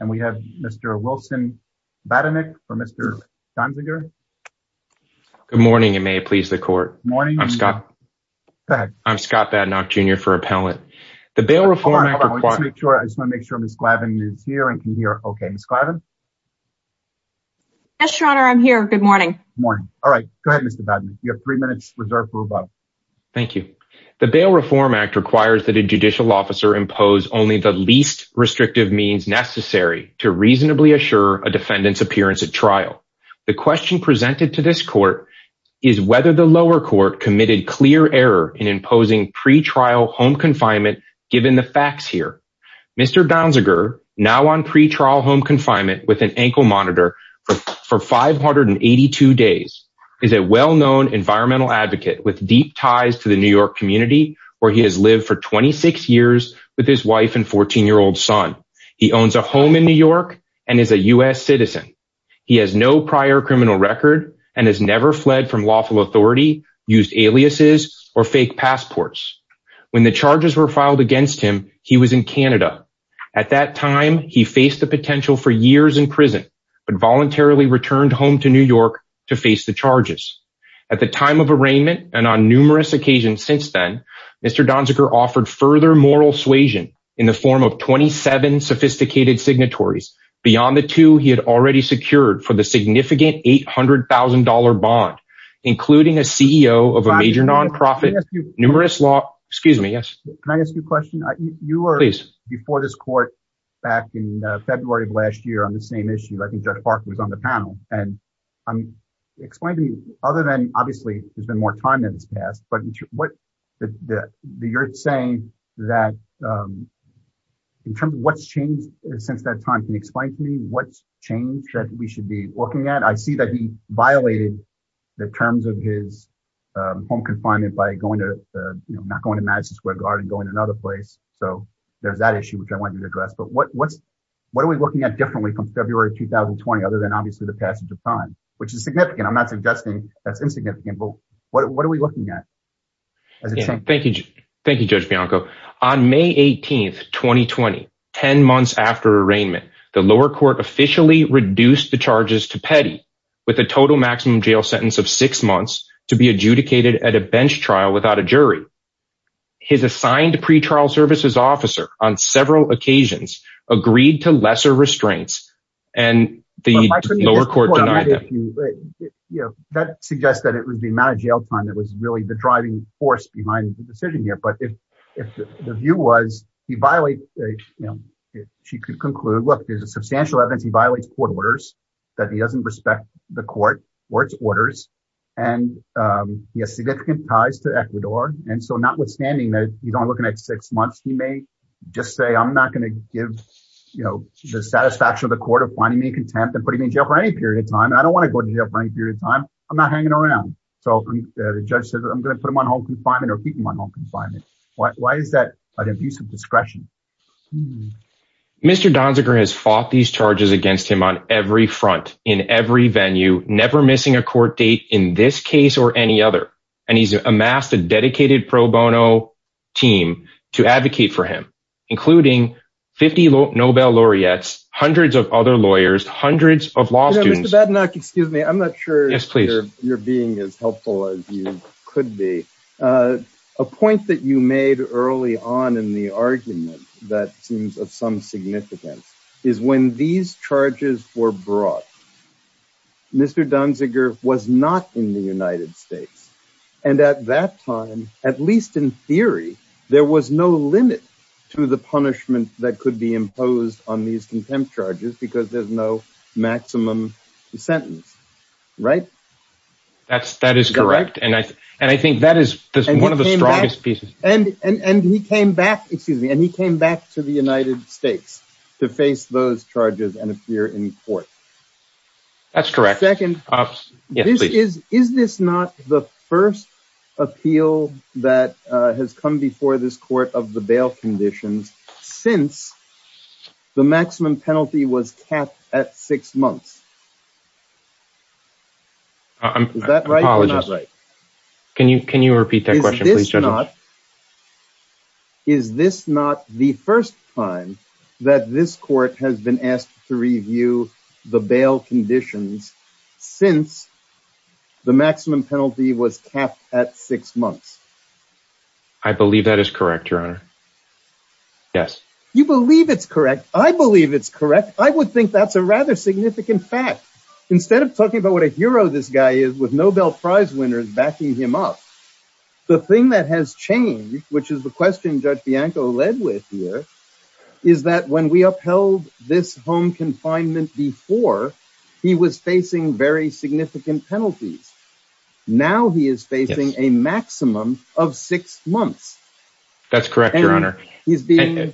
and we have Mr. Wilson Badenik for Mr. Donziger. Good morning and may it please the court. I'm Scott Badenok Jr. for Appellant. The Bail Reform Act requires... Hold on, hold on. I just want to make sure Ms. Glavin is here and can hear. Okay, Ms. Glavin? Yes, Your Honor. I'm here. Good morning. Good morning. All right. Go ahead, Mr. Badenik. You have three minutes reserved for rebuttal. Thank you. The Bail Reform Act requires that a judicial officer impose only the least restrictive means necessary to reasonably assure a defendant's appearance at trial. The question presented to this court is whether the lower court committed clear error in imposing pretrial home confinement, given the facts here. Mr. Donziger, now on pretrial home confinement with an ankle monitor for 582 days, is a well-known environmental advocate with deep ties to the New York community where he has lived for 26 years with his wife and 14-year-old son. He owns a home in New York and is a U.S. citizen. He has no prior criminal record and has never fled from lawful authority, used aliases or fake passports. When the charges were filed against him, he was in Canada. At that time, he faced the potential for years in prison but voluntarily returned home to New York to face the charges. At the time of arraignment and on numerous occasions since then, Mr. Donziger offered further moral suasion in the form of 27 sophisticated signatories. Beyond the two, he had already secured for the significant $800,000 bond, including a CEO of a major nonprofit, numerous law – excuse me, yes? Can I ask you a question? You were – Please. – before this court back in February of last year on the same issue. I think Judge Parker was on the panel. And explain to me, other than obviously there's been more time than has passed, but what – you're saying that in terms of what's changed since that time, can you explain to me what's changed that we should be looking at? And I see that he violated the terms of his home confinement by going to – not going to Madison Square Garden, going to another place. So there's that issue, which I wanted to address. But what's – what are we looking at differently from February 2020 other than obviously the passage of time, which is significant? I'm not suggesting that's insignificant, but what are we looking at? Thank you, Judge Bianco. On May 18, 2020, 10 months after arraignment, the lower court officially reduced the charges to petty with a total maximum jail sentence of six months to be adjudicated at a bench trial without a jury. His assigned pretrial services officer on several occasions agreed to lesser restraints, and the lower court denied them. That suggests that it was the amount of jail time that was really the driving force behind the decision here. But if the view was he violated – she could conclude, look, there's a substantial evidence he violates court orders, that he doesn't respect the court or its orders, and he has significant ties to Ecuador. And so notwithstanding that you're looking at six months, he may just say, I'm not going to give the satisfaction of the court of finding me contempt and putting me in jail for any period of time. I don't want to go to jail for any period of time. I'm not hanging around. So the judge says I'm going to put him on home confinement or keep him on home confinement. Why is that an abuse of discretion? Mr. Donziger has fought these charges against him on every front, in every venue, never missing a court date in this case or any other. And he's amassed a dedicated pro bono team to advocate for him, including 50 Nobel laureates, hundreds of other lawyers, hundreds of law students. Mr. Badnack, excuse me, I'm not sure you're being as helpful as you could be. A point that you made early on in the argument that seems of some significance is when these charges were brought, Mr. Donziger was not in the United States. And at that time, at least in theory, there was no limit to the punishment that could be imposed on these contempt charges because there's no maximum sentence. Right? That is correct. And I think that is one of the strongest pieces. And he came back to the United States to face those charges and appear in court. That's correct. Second, is this not the first appeal that has come before this court of the bail conditions since the maximum penalty was capped at six months? Is that right or not right? Can you repeat that question, please, Judge? Is this not the first time that this court has been asked to review the bail conditions since the maximum penalty was capped at six months? I believe that is correct, Your Honor. Yes. You believe it's correct. I believe it's correct. I would think that's a rather significant fact. Instead of talking about what a hero this guy is with Nobel Prize winners backing him up, the thing that has changed, which is the question Judge Bianco led with here, is that when we upheld this home confinement before, he was facing very significant penalties. Now he is facing a maximum of six months. And the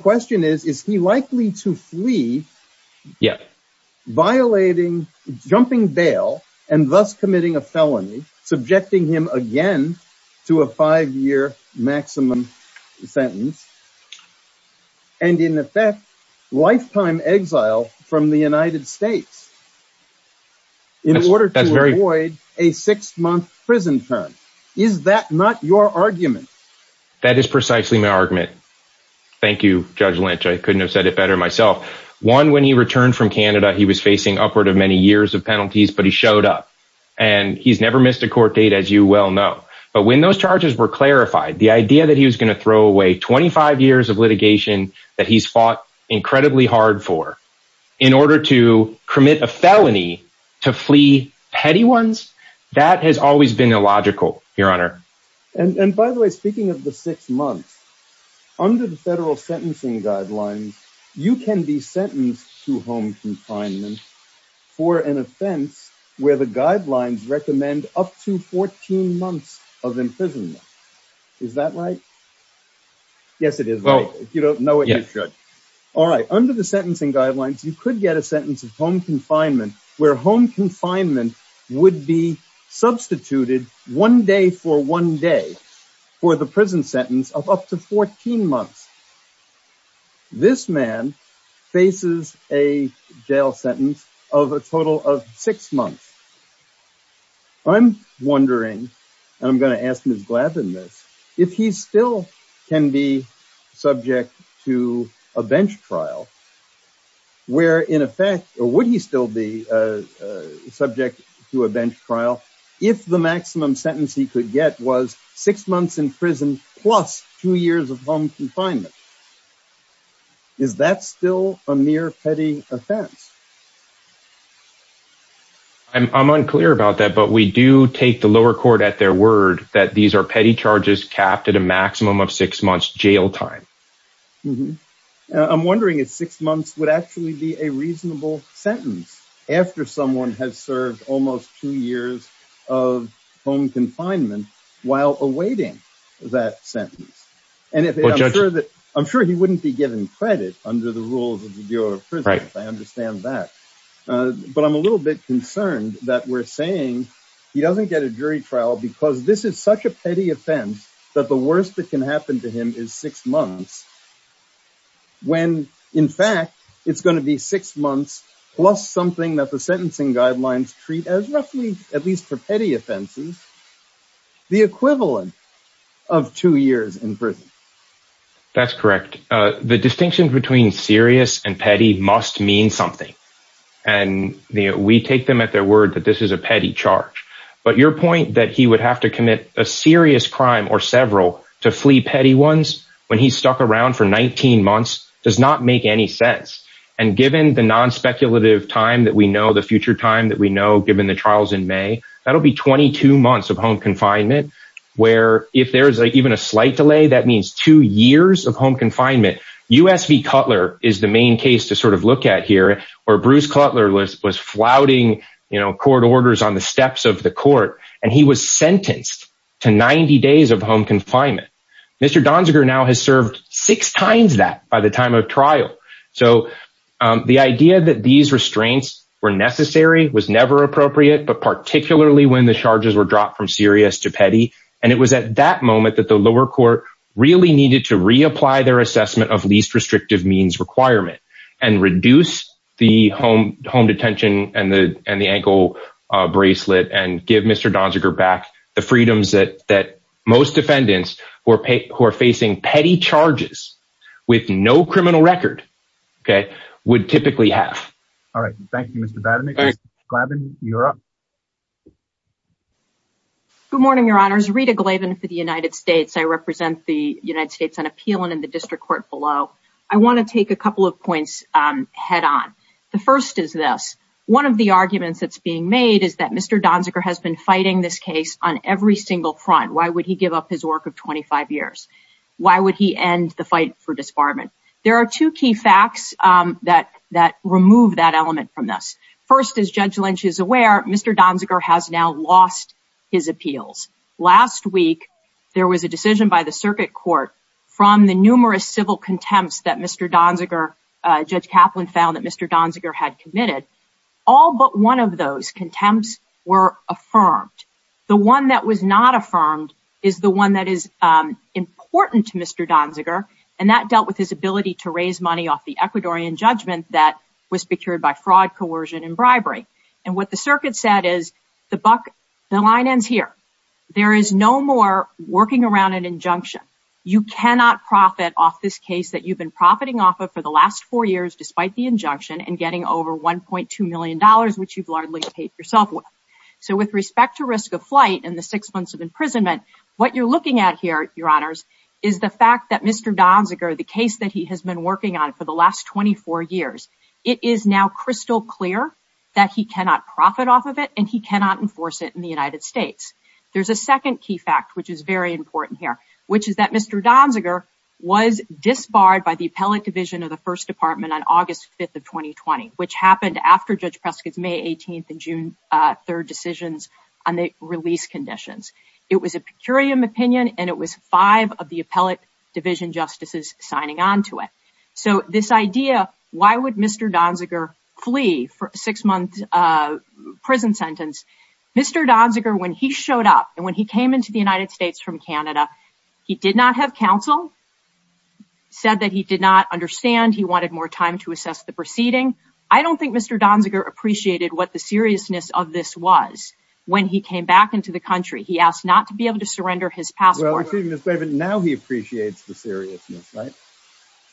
question is, is he likely to flee, violating, jumping bail, and thus committing a felony, subjecting him again to a five-year maximum sentence, and in effect lifetime exile from the United States in order to avoid a six-month prison term? Is that not your argument? That is precisely my argument. Thank you, Judge Lynch. I couldn't have said it better myself. One, when he returned from Canada, he was facing upward of many years of penalties, but he showed up. And he's never missed a court date, as you well know. But when those charges were clarified, the idea that he was going to throw away 25 years of litigation that he's fought incredibly hard for in order to commit a felony to flee petty ones, that has always been illogical, Your Honor. And by the way, speaking of the six months, under the federal sentencing guidelines, you can be sentenced to home confinement for an offense where the guidelines recommend up to 14 months of imprisonment. Is that right? Yes, it is. If you don't know it, you should. All right. Under the sentencing guidelines, you could get a sentence of home confinement where home confinement would be substituted one day for one day for the prison sentence of up to 14 months. This man faces a jail sentence of a total of six months. I'm wondering, and I'm going to ask Ms. Glavin this, if he still can be subject to a bench trial, where in effect, or would he still be subject to a bench trial if the maximum sentence he could get was six months in prison plus two years of home confinement? Is that still a mere petty offense? I'm unclear about that, but we do take the lower court at their word that these are petty charges capped at a maximum of six months jail time. I'm wondering if six months would actually be a reasonable sentence after someone has served almost two years of home confinement while awaiting that sentence. I'm sure he wouldn't be given credit under the rules of the Bureau of Prisons. I understand that. But I'm a little bit concerned that we're saying he doesn't get a jury trial because this is such a petty offense that the worst that can happen to him is six months. When, in fact, it's going to be six months plus something that the sentencing guidelines treat as roughly, at least for petty offenses, the equivalent of two years in prison. That's correct. The distinction between serious and petty must mean something. And we take them at their word that this is a petty charge. But your point that he would have to commit a serious crime or several to flee petty ones when he's stuck around for 19 months does not make any sense. And given the non-speculative time that we know, the future time that we know, given the trials in May, that'll be 22 months of home confinement where if there is even a slight delay, that means two years of home confinement. USV Cutler is the main case to sort of look at here, where Bruce Cutler was flouting court orders on the steps of the court and he was sentenced to 90 days of home confinement. Mr. Donziger now has served six times that by the time of trial. So the idea that these restraints were necessary was never appropriate, but particularly when the charges were dropped from serious to petty. And it was at that moment that the lower court really needed to reapply their assessment of least restrictive means requirement and reduce the home detention and the ankle bracelet and give Mr. Donziger back the freedoms that most defendants who are facing petty charges with no criminal record would typically have. All right. Thank you, Mr. Glavin, you're up. Good morning, Your Honors. Rita Glavin for the United States. I represent the United States and appeal in the district court below. I want to take a couple of points head on. The first is this. One of the arguments that's being made is that Mr. Donziger has been fighting this case on every single front. Why would he give up his work of 25 years? Why would he end the fight for disbarment? There are two key facts that that remove that element from this. First, as Judge Lynch is aware, Mr. Donziger has now lost his appeals. Last week, there was a decision by the circuit court from the numerous civil contempt that Mr. Donziger, Judge Kaplan, found that Mr. Donziger had committed. All but one of those contempts were affirmed. The one that was not affirmed is the one that is important to Mr. Donziger. And that dealt with his ability to raise money off the Ecuadorian judgment that was procured by fraud, coercion, and bribery. And what the circuit said is the line ends here. There is no more working around an injunction. You cannot profit off this case that you've been profiting off of for the last four years, despite the injunction, and getting over $1.2 million, which you've largely paid yourself with. So with respect to risk of flight and the six months of imprisonment, what you're looking at here, Your Honors, is the fact that Mr. Donziger, the case that he has been working on for the last 24 years, it is now crystal clear that he cannot profit off of it and he cannot enforce it in the United States. There's a second key fact, which is very important here, which is that Mr. Donziger was disbarred by the appellate division of the First Department on August 5th of 2020, which happened after Judge Prescott's May 18th and June 3rd decisions on the release conditions. It was a per curiam opinion and it was five of the appellate division justices signing on to it. So this idea, why would Mr. Donziger flee for a six month prison sentence? Mr. Donziger, when he showed up and when he came into the United States from Canada, he did not have counsel, said that he did not understand. He wanted more time to assess the proceeding. I don't think Mr. Donziger appreciated what the seriousness of this was. When he came back into the country, he asked not to be able to surrender his passport. Now he appreciates the seriousness, right?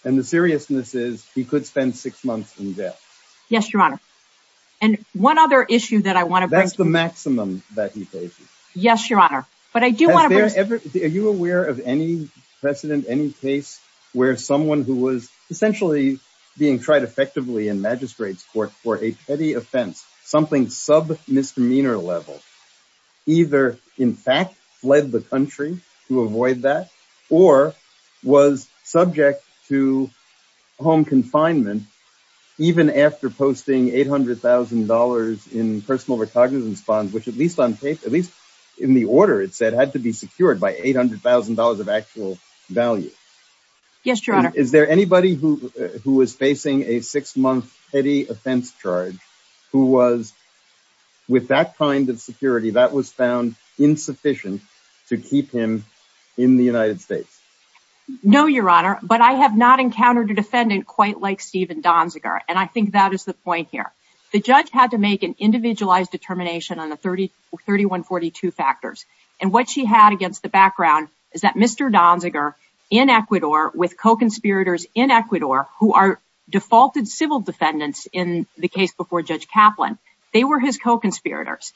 And the seriousness is he could spend six months in jail. Yes, Your Honor. And one other issue that I want to- That's the maximum that he pays you. Yes, Your Honor. But I do want to- Are you aware of any precedent, any case where someone who was essentially being tried effectively in magistrate's court for a petty offense, something sub misdemeanor level, either in fact fled the country to avoid that or was subject to home confinement even after posting $800,000 in personal recognizance funds, which at least in the order it said had to be secured by $800,000 of actual value? Yes, Your Honor. Is there anybody who was facing a six-month petty offense charge who was, with that kind of security, that was found insufficient to keep him in the United States? No, Your Honor, but I have not encountered a defendant quite like Stephen Donziger, and I think that is the point here. The judge had to make an individualized determination on the 3142 factors, and what she had against the background is that Mr. Donziger, in Ecuador, with co-conspirators in Ecuador who are defaulted civil defendants in the case before Judge Kaplan, they were his co-conspirators.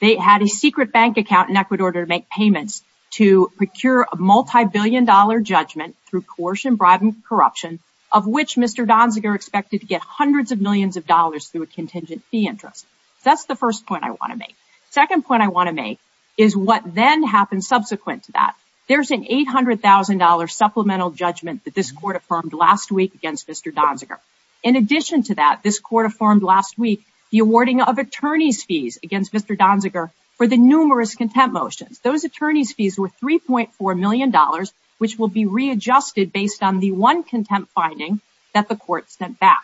They had a secret bank account in Ecuador to make payments to procure a multibillion-dollar judgment through coercion, bribery, and corruption, of which Mr. Donziger expected to get hundreds of millions of dollars through a contingent fee interest. That's the first point I want to make. The second point I want to make is what then happened subsequent to that. There's an $800,000 supplemental judgment that this Court affirmed last week against Mr. Donziger. In addition to that, this Court affirmed last week the awarding of attorney's fees against Mr. Donziger for the numerous contempt motions. Those attorney's fees were $3.4 million, which will be readjusted based on the one contempt finding that the Court sent back.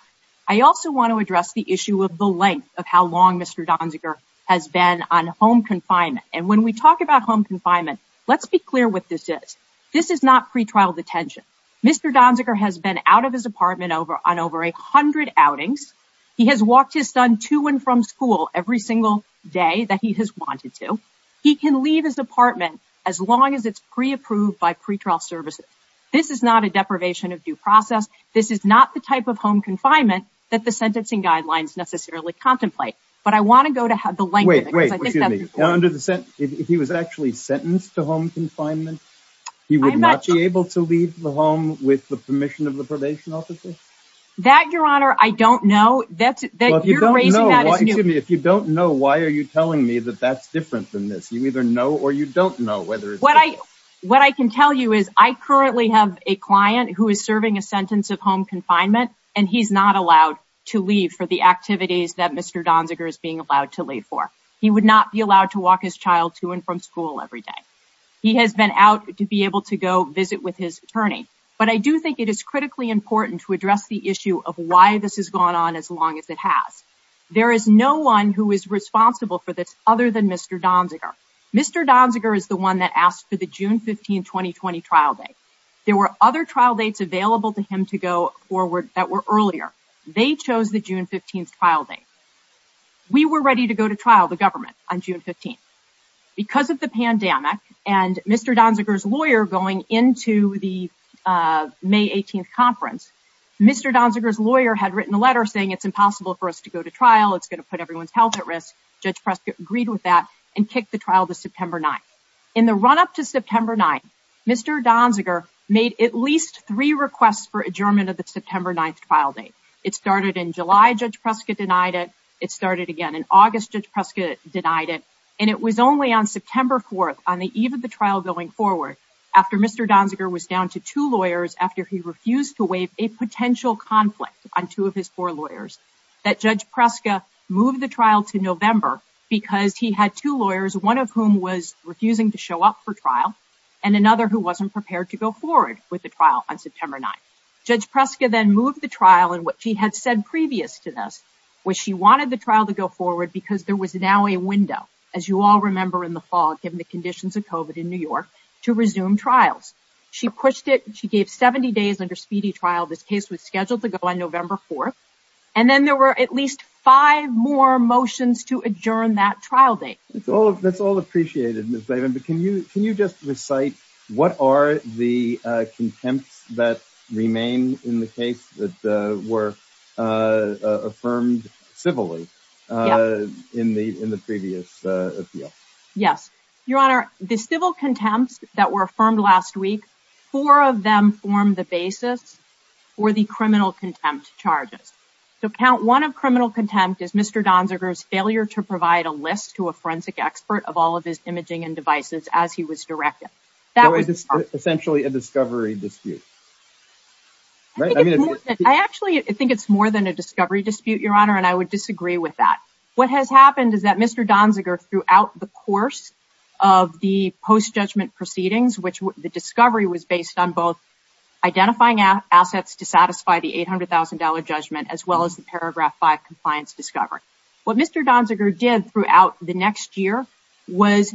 I also want to address the issue of the length of how long Mr. Donziger has been on home confinement. And when we talk about home confinement, let's be clear what this is. This is not pretrial detention. Mr. Donziger has been out of his apartment on over 100 outings. He has walked his son to and from school every single day that he has wanted to. He can leave his apartment as long as it's pre-approved by pretrial services. This is not a deprivation of due process. This is not the type of home confinement that the sentencing guidelines necessarily contemplate. But I want to go to the length of it. Wait, wait, excuse me. If he was actually sentenced to home confinement, he would not be able to leave the home with the permission of the probation officer? That, Your Honor, I don't know. Well, if you don't know, why are you telling me that that's different than this? You either know or you don't know. What I can tell you is I currently have a client who is serving a sentence of home confinement, and he's not allowed to leave for the activities that Mr. Donziger is being allowed to leave for. He would not be allowed to walk his child to and from school every day. He has been out to be able to go visit with his attorney. But I do think it is critically important to address the issue of why this has gone on as long as it has. There is no one who is responsible for this other than Mr. Donziger. Mr. Donziger is the one that asked for the June 15, 2020 trial date. There were other trial dates available to him to go forward that were earlier. They chose the June 15 trial date. We were ready to go to trial, the government, on June 15. Because of the pandemic and Mr. Donziger's lawyer going into the May 18 conference, Mr. Donziger's lawyer had written a letter saying it's impossible for us to go to trial. It's going to put everyone's health at risk. Judge Prescott agreed with that and kicked the trial to September 9. In the run-up to September 9, Mr. Donziger made at least three requests for adjournment of the September 9 trial date. It started in July. Judge Prescott denied it. It started again in August. Judge Prescott denied it. And it was only on September 4, on the eve of the trial going forward, after Mr. Donziger was down to two lawyers, after he refused to waive a potential conflict on two of his four lawyers, that Judge Prescott moved the trial to November because he had two lawyers, one of whom was refusing to show up for trial, and another who wasn't prepared to go forward with the trial on September 9. Judge Prescott then moved the trial. And what she had said previous to this was she wanted the trial to go forward because there was now a window, as you all remember in the fall, given the conditions of COVID in New York, to resume trials. She pushed it. She gave 70 days under speedy trial. This case was scheduled to go on November 4. And then there were at least five more motions to adjourn that trial date. That's all appreciated, Ms. Laven. But can you just recite what are the contempts that remain in the case that were affirmed civilly in the previous appeal? Yes. Your Honor, the civil contempts that were affirmed last week, four of them formed the basis for the criminal contempt charges. So count one of criminal contempt is Mr. Donziger's failure to provide a list to a forensic expert of all of his imaging and devices as he was directed. That was essentially a discovery dispute. I actually think it's more than a discovery dispute, Your Honor, and I would disagree with that. What has happened is that Mr. Donziger, throughout the course of the post-judgment proceedings, the discovery was based on both identifying assets to satisfy the $800,000 judgment as well as the Paragraph 5 compliance discovery. What Mr. Donziger did throughout the next year was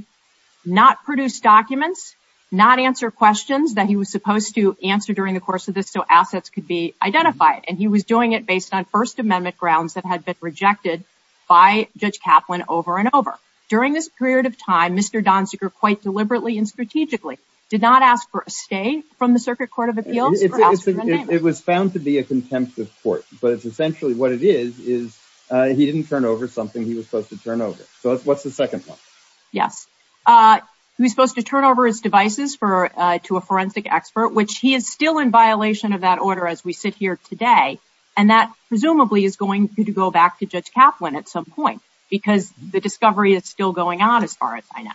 not produce documents, not answer questions that he was supposed to answer during the course of this so assets could be identified. And he was doing it based on First Amendment grounds that had been rejected by Judge Kaplan over and over. During this period of time, Mr. Donziger, quite deliberately and strategically, did not ask for a stay from the Circuit Court of Appeals or ask for a name. It was found to be a contempt of court, but essentially what it is is he didn't turn over something he was supposed to turn over. So what's the second one? Yes. He was supposed to turn over his devices to a forensic expert, which he is still in violation of that order as we sit here today, and that presumably is going to go back to Judge Kaplan at some point because the discovery is still going on as far as I know.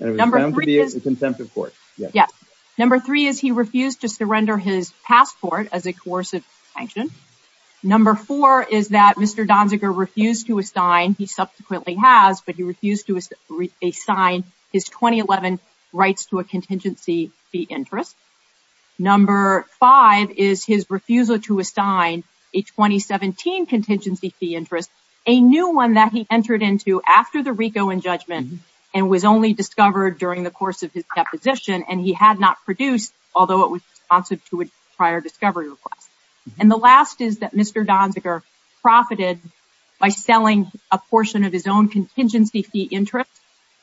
It was found to be a contempt of court. Yes. Number three is he refused to surrender his passport as a coercive sanction. Number four is that Mr. Donziger refused to assign, he subsequently has, but he refused to assign his 2011 rights to a contingency fee interest. Number five is his refusal to assign a 2017 contingency fee interest, a new one that he entered into after the RICO injudgment and was only discovered during the course of his deposition, and he had not produced, although it was responsive to a prior discovery request. And the last is that Mr. Donziger profited by selling a portion of his own contingency fee interest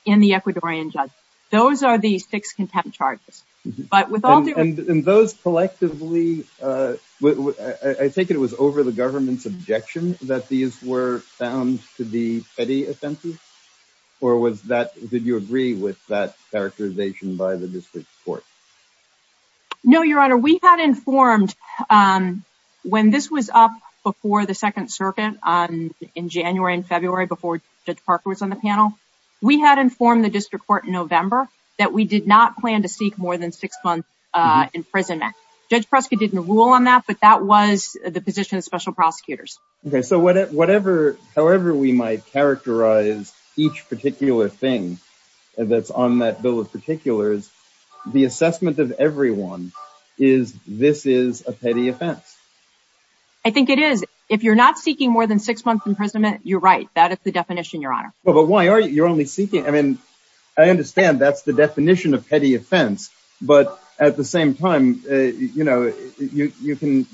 in the Ecuadorian judgment. Those are the six contempt charges. And those collectively, I take it it was over the government's objection that these were found to be petty offenses? Or did you agree with that characterization by the district court? No, Your Honor. We had informed when this was up before the Second Circuit in January and February before Judge Parker was on the panel, we had informed the district court in November that we did not plan to seek more than six months imprisonment. Judge Prescott didn't rule on that, but that was the position of special prosecutors. Okay, so however we might characterize each particular thing that's on that bill of particulars, the assessment of everyone is this is a petty offense. I think it is. If you're not seeking more than six months imprisonment, you're right. That is the definition, Your Honor. Well, but why are you only seeking? I mean, I understand that's the definition of petty offense, but at the same time, you know, you can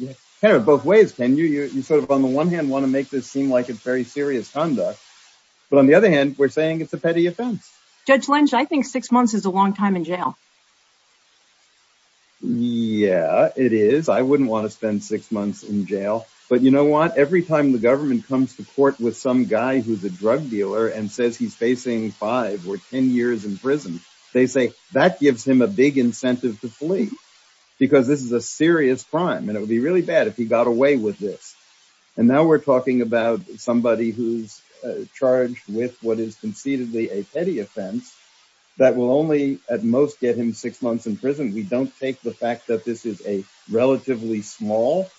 have it both ways, can you? You sort of, on the one hand, want to make this seem like it's very serious conduct. But on the other hand, we're saying it's a petty offense. Judge Lynch, I think six months is a long time in jail. Yeah, it is. I wouldn't want to spend six months in jail. But you know what? Every time the government comes to court with some guy who's a drug dealer and says he's facing five or ten years in prison, they say that gives him a big incentive to flee because this is a serious crime and it would be really bad if he got away with this. And now we're talking about somebody who's charged with what is concededly a petty offense that will only, at most, get him six months in prison. We don't take the fact that this is a relatively small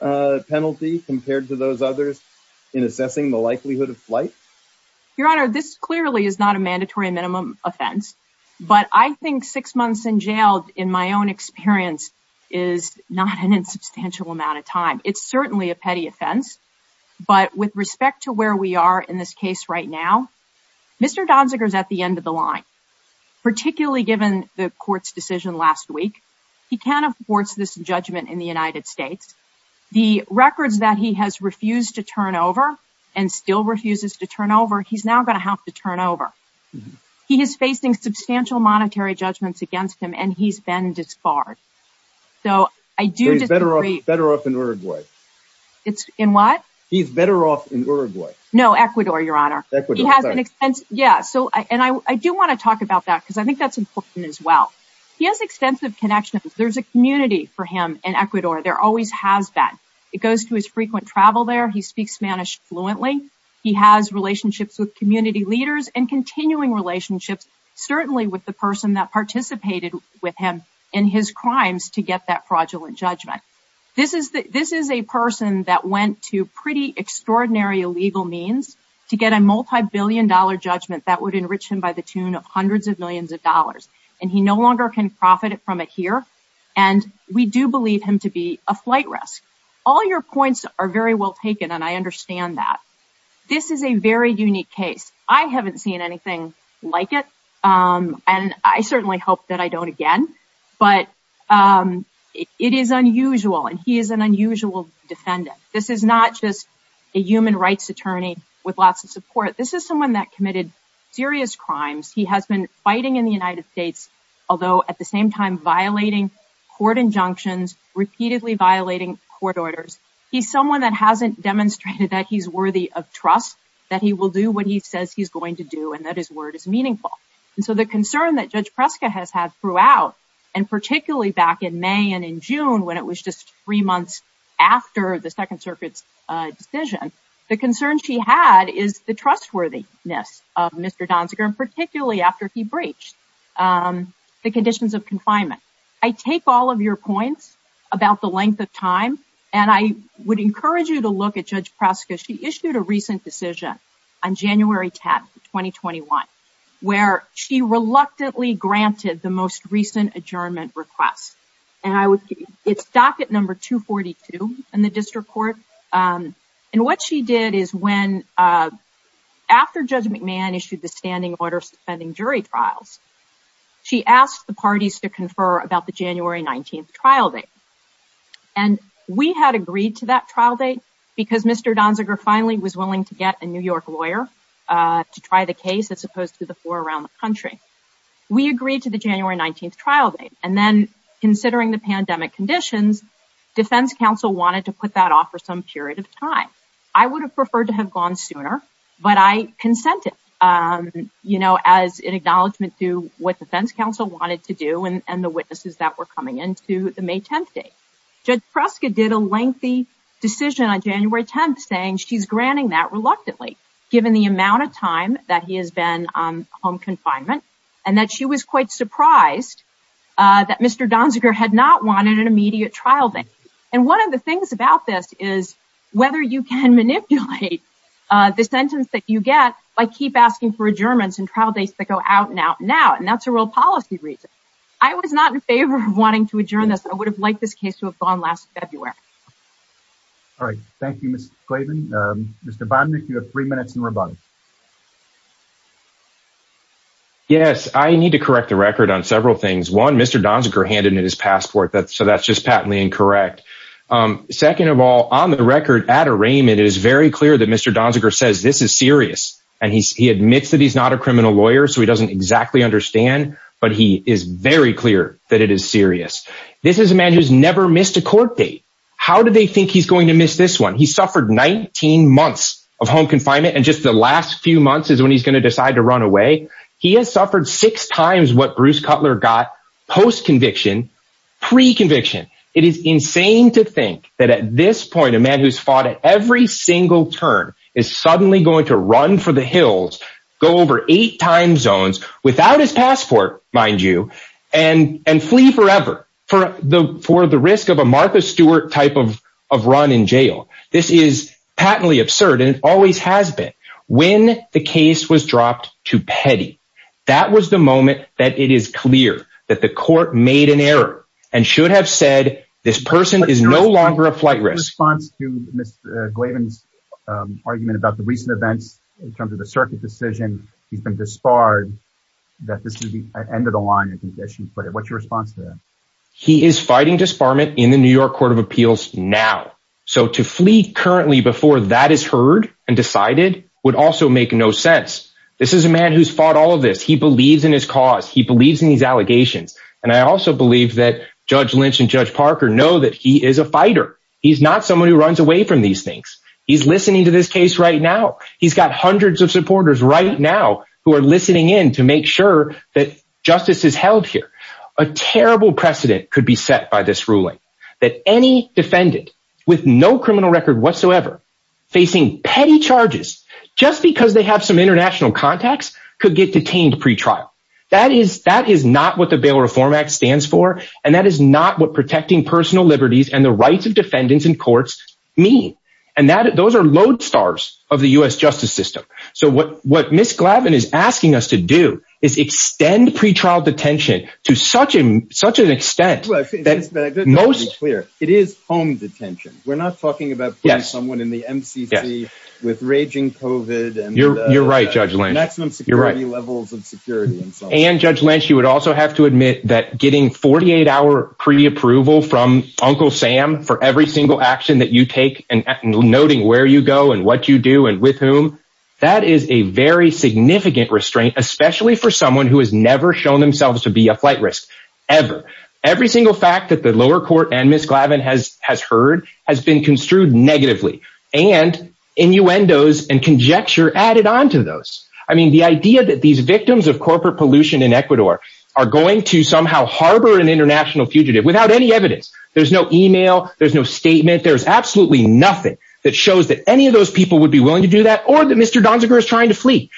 penalty compared to those others in assessing the likelihood of flight? Your Honor, this clearly is not a mandatory minimum offense. But I think six months in jail, in my own experience, is not an insubstantial amount of time. It's certainly a petty offense. But with respect to where we are in this case right now, Mr. Donziger is at the end of the line. Particularly given the court's decision last week, he can't afford this judgment in the United States. The records that he has refused to turn over and still refuses to turn over, he's now going to have to turn over. He is facing substantial monetary judgments against him and he's been disbarred. So I do disagree. He's better off in Uruguay. In what? He's better off in Uruguay. No, Ecuador, Your Honor. Ecuador, sorry. Yeah, and I do want to talk about that because I think that's important as well. He has extensive connections. There's a community for him in Ecuador. There always has been. It goes to his frequent travel there. He speaks Spanish fluently. He has relationships with community leaders and continuing relationships, certainly with the person that participated with him in his crimes to get that fraudulent judgment. This is a person that went to pretty extraordinary legal means to get a multibillion-dollar judgment that would enrich him by the tune of hundreds of millions of dollars. And he no longer can profit from it here. And we do believe him to be a flight risk. All your points are very well taken, and I understand that. This is a very unique case. I haven't seen anything like it, and I certainly hope that I don't again. But it is unusual, and he is an unusual defendant. This is not just a human rights attorney with lots of support. This is someone that committed serious crimes. He has been fighting in the United States, although at the same time violating court injunctions, repeatedly violating court orders. He's someone that hasn't demonstrated that he's worthy of trust, that he will do what he says he's going to do, and that his word is meaningful. And so the concern that Judge Preska has had throughout, and particularly back in May and in June, when it was just three months after the Second Circuit's decision, the concern she had is the trustworthiness of Mr. Donziger, and particularly after he breached the conditions of confinement. I take all of your points about the length of time, and I would encourage you to look at Judge Preska. She issued a recent decision on January 10, 2021, where she reluctantly granted the most recent adjournment request. It's docket number 242 in the district court. And what she did is, after Judge McMahon issued the standing order suspending jury trials, she asked the parties to confer about the January 19 trial date. And we had agreed to that trial date because Mr. Donziger finally was willing to get a New York lawyer to try the case, as opposed to the four around the country. We agreed to the January 19 trial date, and then considering the pandemic conditions, defense counsel wanted to put that off for some period of time. I would have preferred to have gone sooner, but I consented, you know, as an acknowledgment to what defense counsel wanted to do and the witnesses that were coming in to the May 10th date. Judge Preska did a lengthy decision on January 10th saying she's granting that reluctantly, given the amount of time that he has been on home confinement, and that she was quite surprised that Mr. Donziger had not wanted an immediate trial date. And one of the things about this is whether you can manipulate the sentence that you get by keep asking for adjournments and trial dates that go out and out now. And that's a real policy reason. I was not in favor of wanting to adjourn this. I would have liked this case to have gone last February. All right. Thank you, Mr. Clayton. Mr. Bond, if you have three minutes in rebuttal. Yes, I need to correct the record on several things. One, Mr. Donziger handed in his passport. So that's just patently incorrect. Second of all, on the record at arraignment, it is very clear that Mr. Donziger says this is serious and he admits that he's not a criminal lawyer. So he doesn't exactly understand. But he is very clear that it is serious. This is a man who's never missed a court date. How do they think he's going to miss this one? He suffered 19 months of home confinement. And just the last few months is when he's going to decide to run away. He has suffered six times what Bruce Cutler got post conviction, pre conviction. It is insane to think that at this point, a man who's fought at every single turn is suddenly going to run for the hills, go over eight time zones without his passport, mind you, and and flee forever for the for the risk of a Martha Stewart type of of run in jail. This is patently absurd. And it always has been when the case was dropped to petty. That was the moment that it is clear that the court made an error and should have said this person is no longer a flight risk. What's your response to Mr. Glavin's argument about the recent events in terms of the circuit decision? He's been disbarred that this is the end of the line and conditions. But what's your response to that? He is fighting disbarment in the New York Court of Appeals now. So to flee currently before that is heard and decided would also make no sense. This is a man who's fought all of this. He believes in his cause. He believes in these allegations. And I also believe that Judge Lynch and Judge Parker know that he is a fighter. He's not someone who runs away from these things. He's listening to this case right now. He's got hundreds of supporters right now who are listening in to make sure that justice is held here. A terrible precedent could be set by this ruling that any defendant with no criminal record whatsoever facing petty charges just because they have some international contacts could get detained pretrial. That is that is not what the Bail Reform Act stands for. And that is not what protecting personal liberties and the rights of defendants in courts mean. And that those are lodestars of the U.S. justice system. So what what Miss Glavin is asking us to do is extend pretrial detention to such and such an extent that most clear it is home detention. We're not talking about someone in the M.C.C. with raging covid. You're right, Judge Lynch. You're right levels of security. And Judge Lynch, you would also have to admit that getting 48 hour preapproval from Uncle Sam for every single action that you take and noting where you go and what you do and with whom. That is a very significant restraint, especially for someone who has never shown themselves to be a flight risk ever. Every single fact that the lower court and Miss Glavin has has heard has been construed negatively and innuendos and conjecture added on to those. I mean, the idea that these victims of corporate pollution in Ecuador are going to somehow harbor an international fugitive without any evidence. There's no email. There's no statement. There's absolutely nothing that shows that any of those people would be willing to do that or that Mr. Donziger is trying to flee.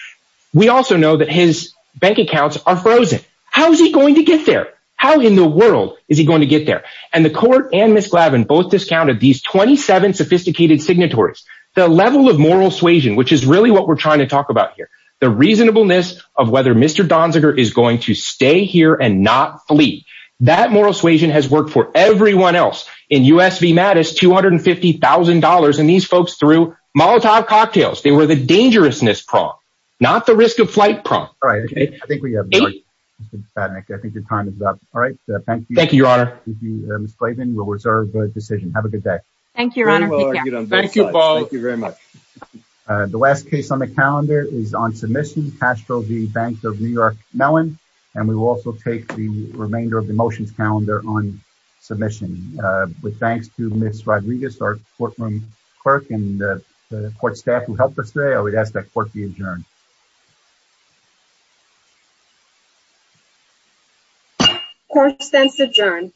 We also know that his bank accounts are frozen. How is he going to get there? How in the world is he going to get there? And the court and Miss Glavin both discounted these twenty seven sophisticated signatories, the level of moral suasion, which is really what we're trying to talk about here. The reasonableness of whether Mr. Donziger is going to stay here and not flee. That moral suasion has worked for everyone else in U.S. V. Mattis, two hundred and fifty thousand dollars. And these folks threw Molotov cocktails. They were the dangerousness prong, not the risk of flight. All right. I think we have. I think your time is up. All right. Thank you. Thank you, Your Honor. Miss Glavin will reserve the decision. Have a good day. Thank you, Your Honor. Thank you. Thank you very much. The last case on the calendar is on submission. Castro, the bank of New York Mellon. And we will also take the remainder of the motions calendar on submission. Thanks to Miss Rodriguez, our courtroom clerk and the court staff who helped us today. I would ask that court be adjourned. Court stands adjourned.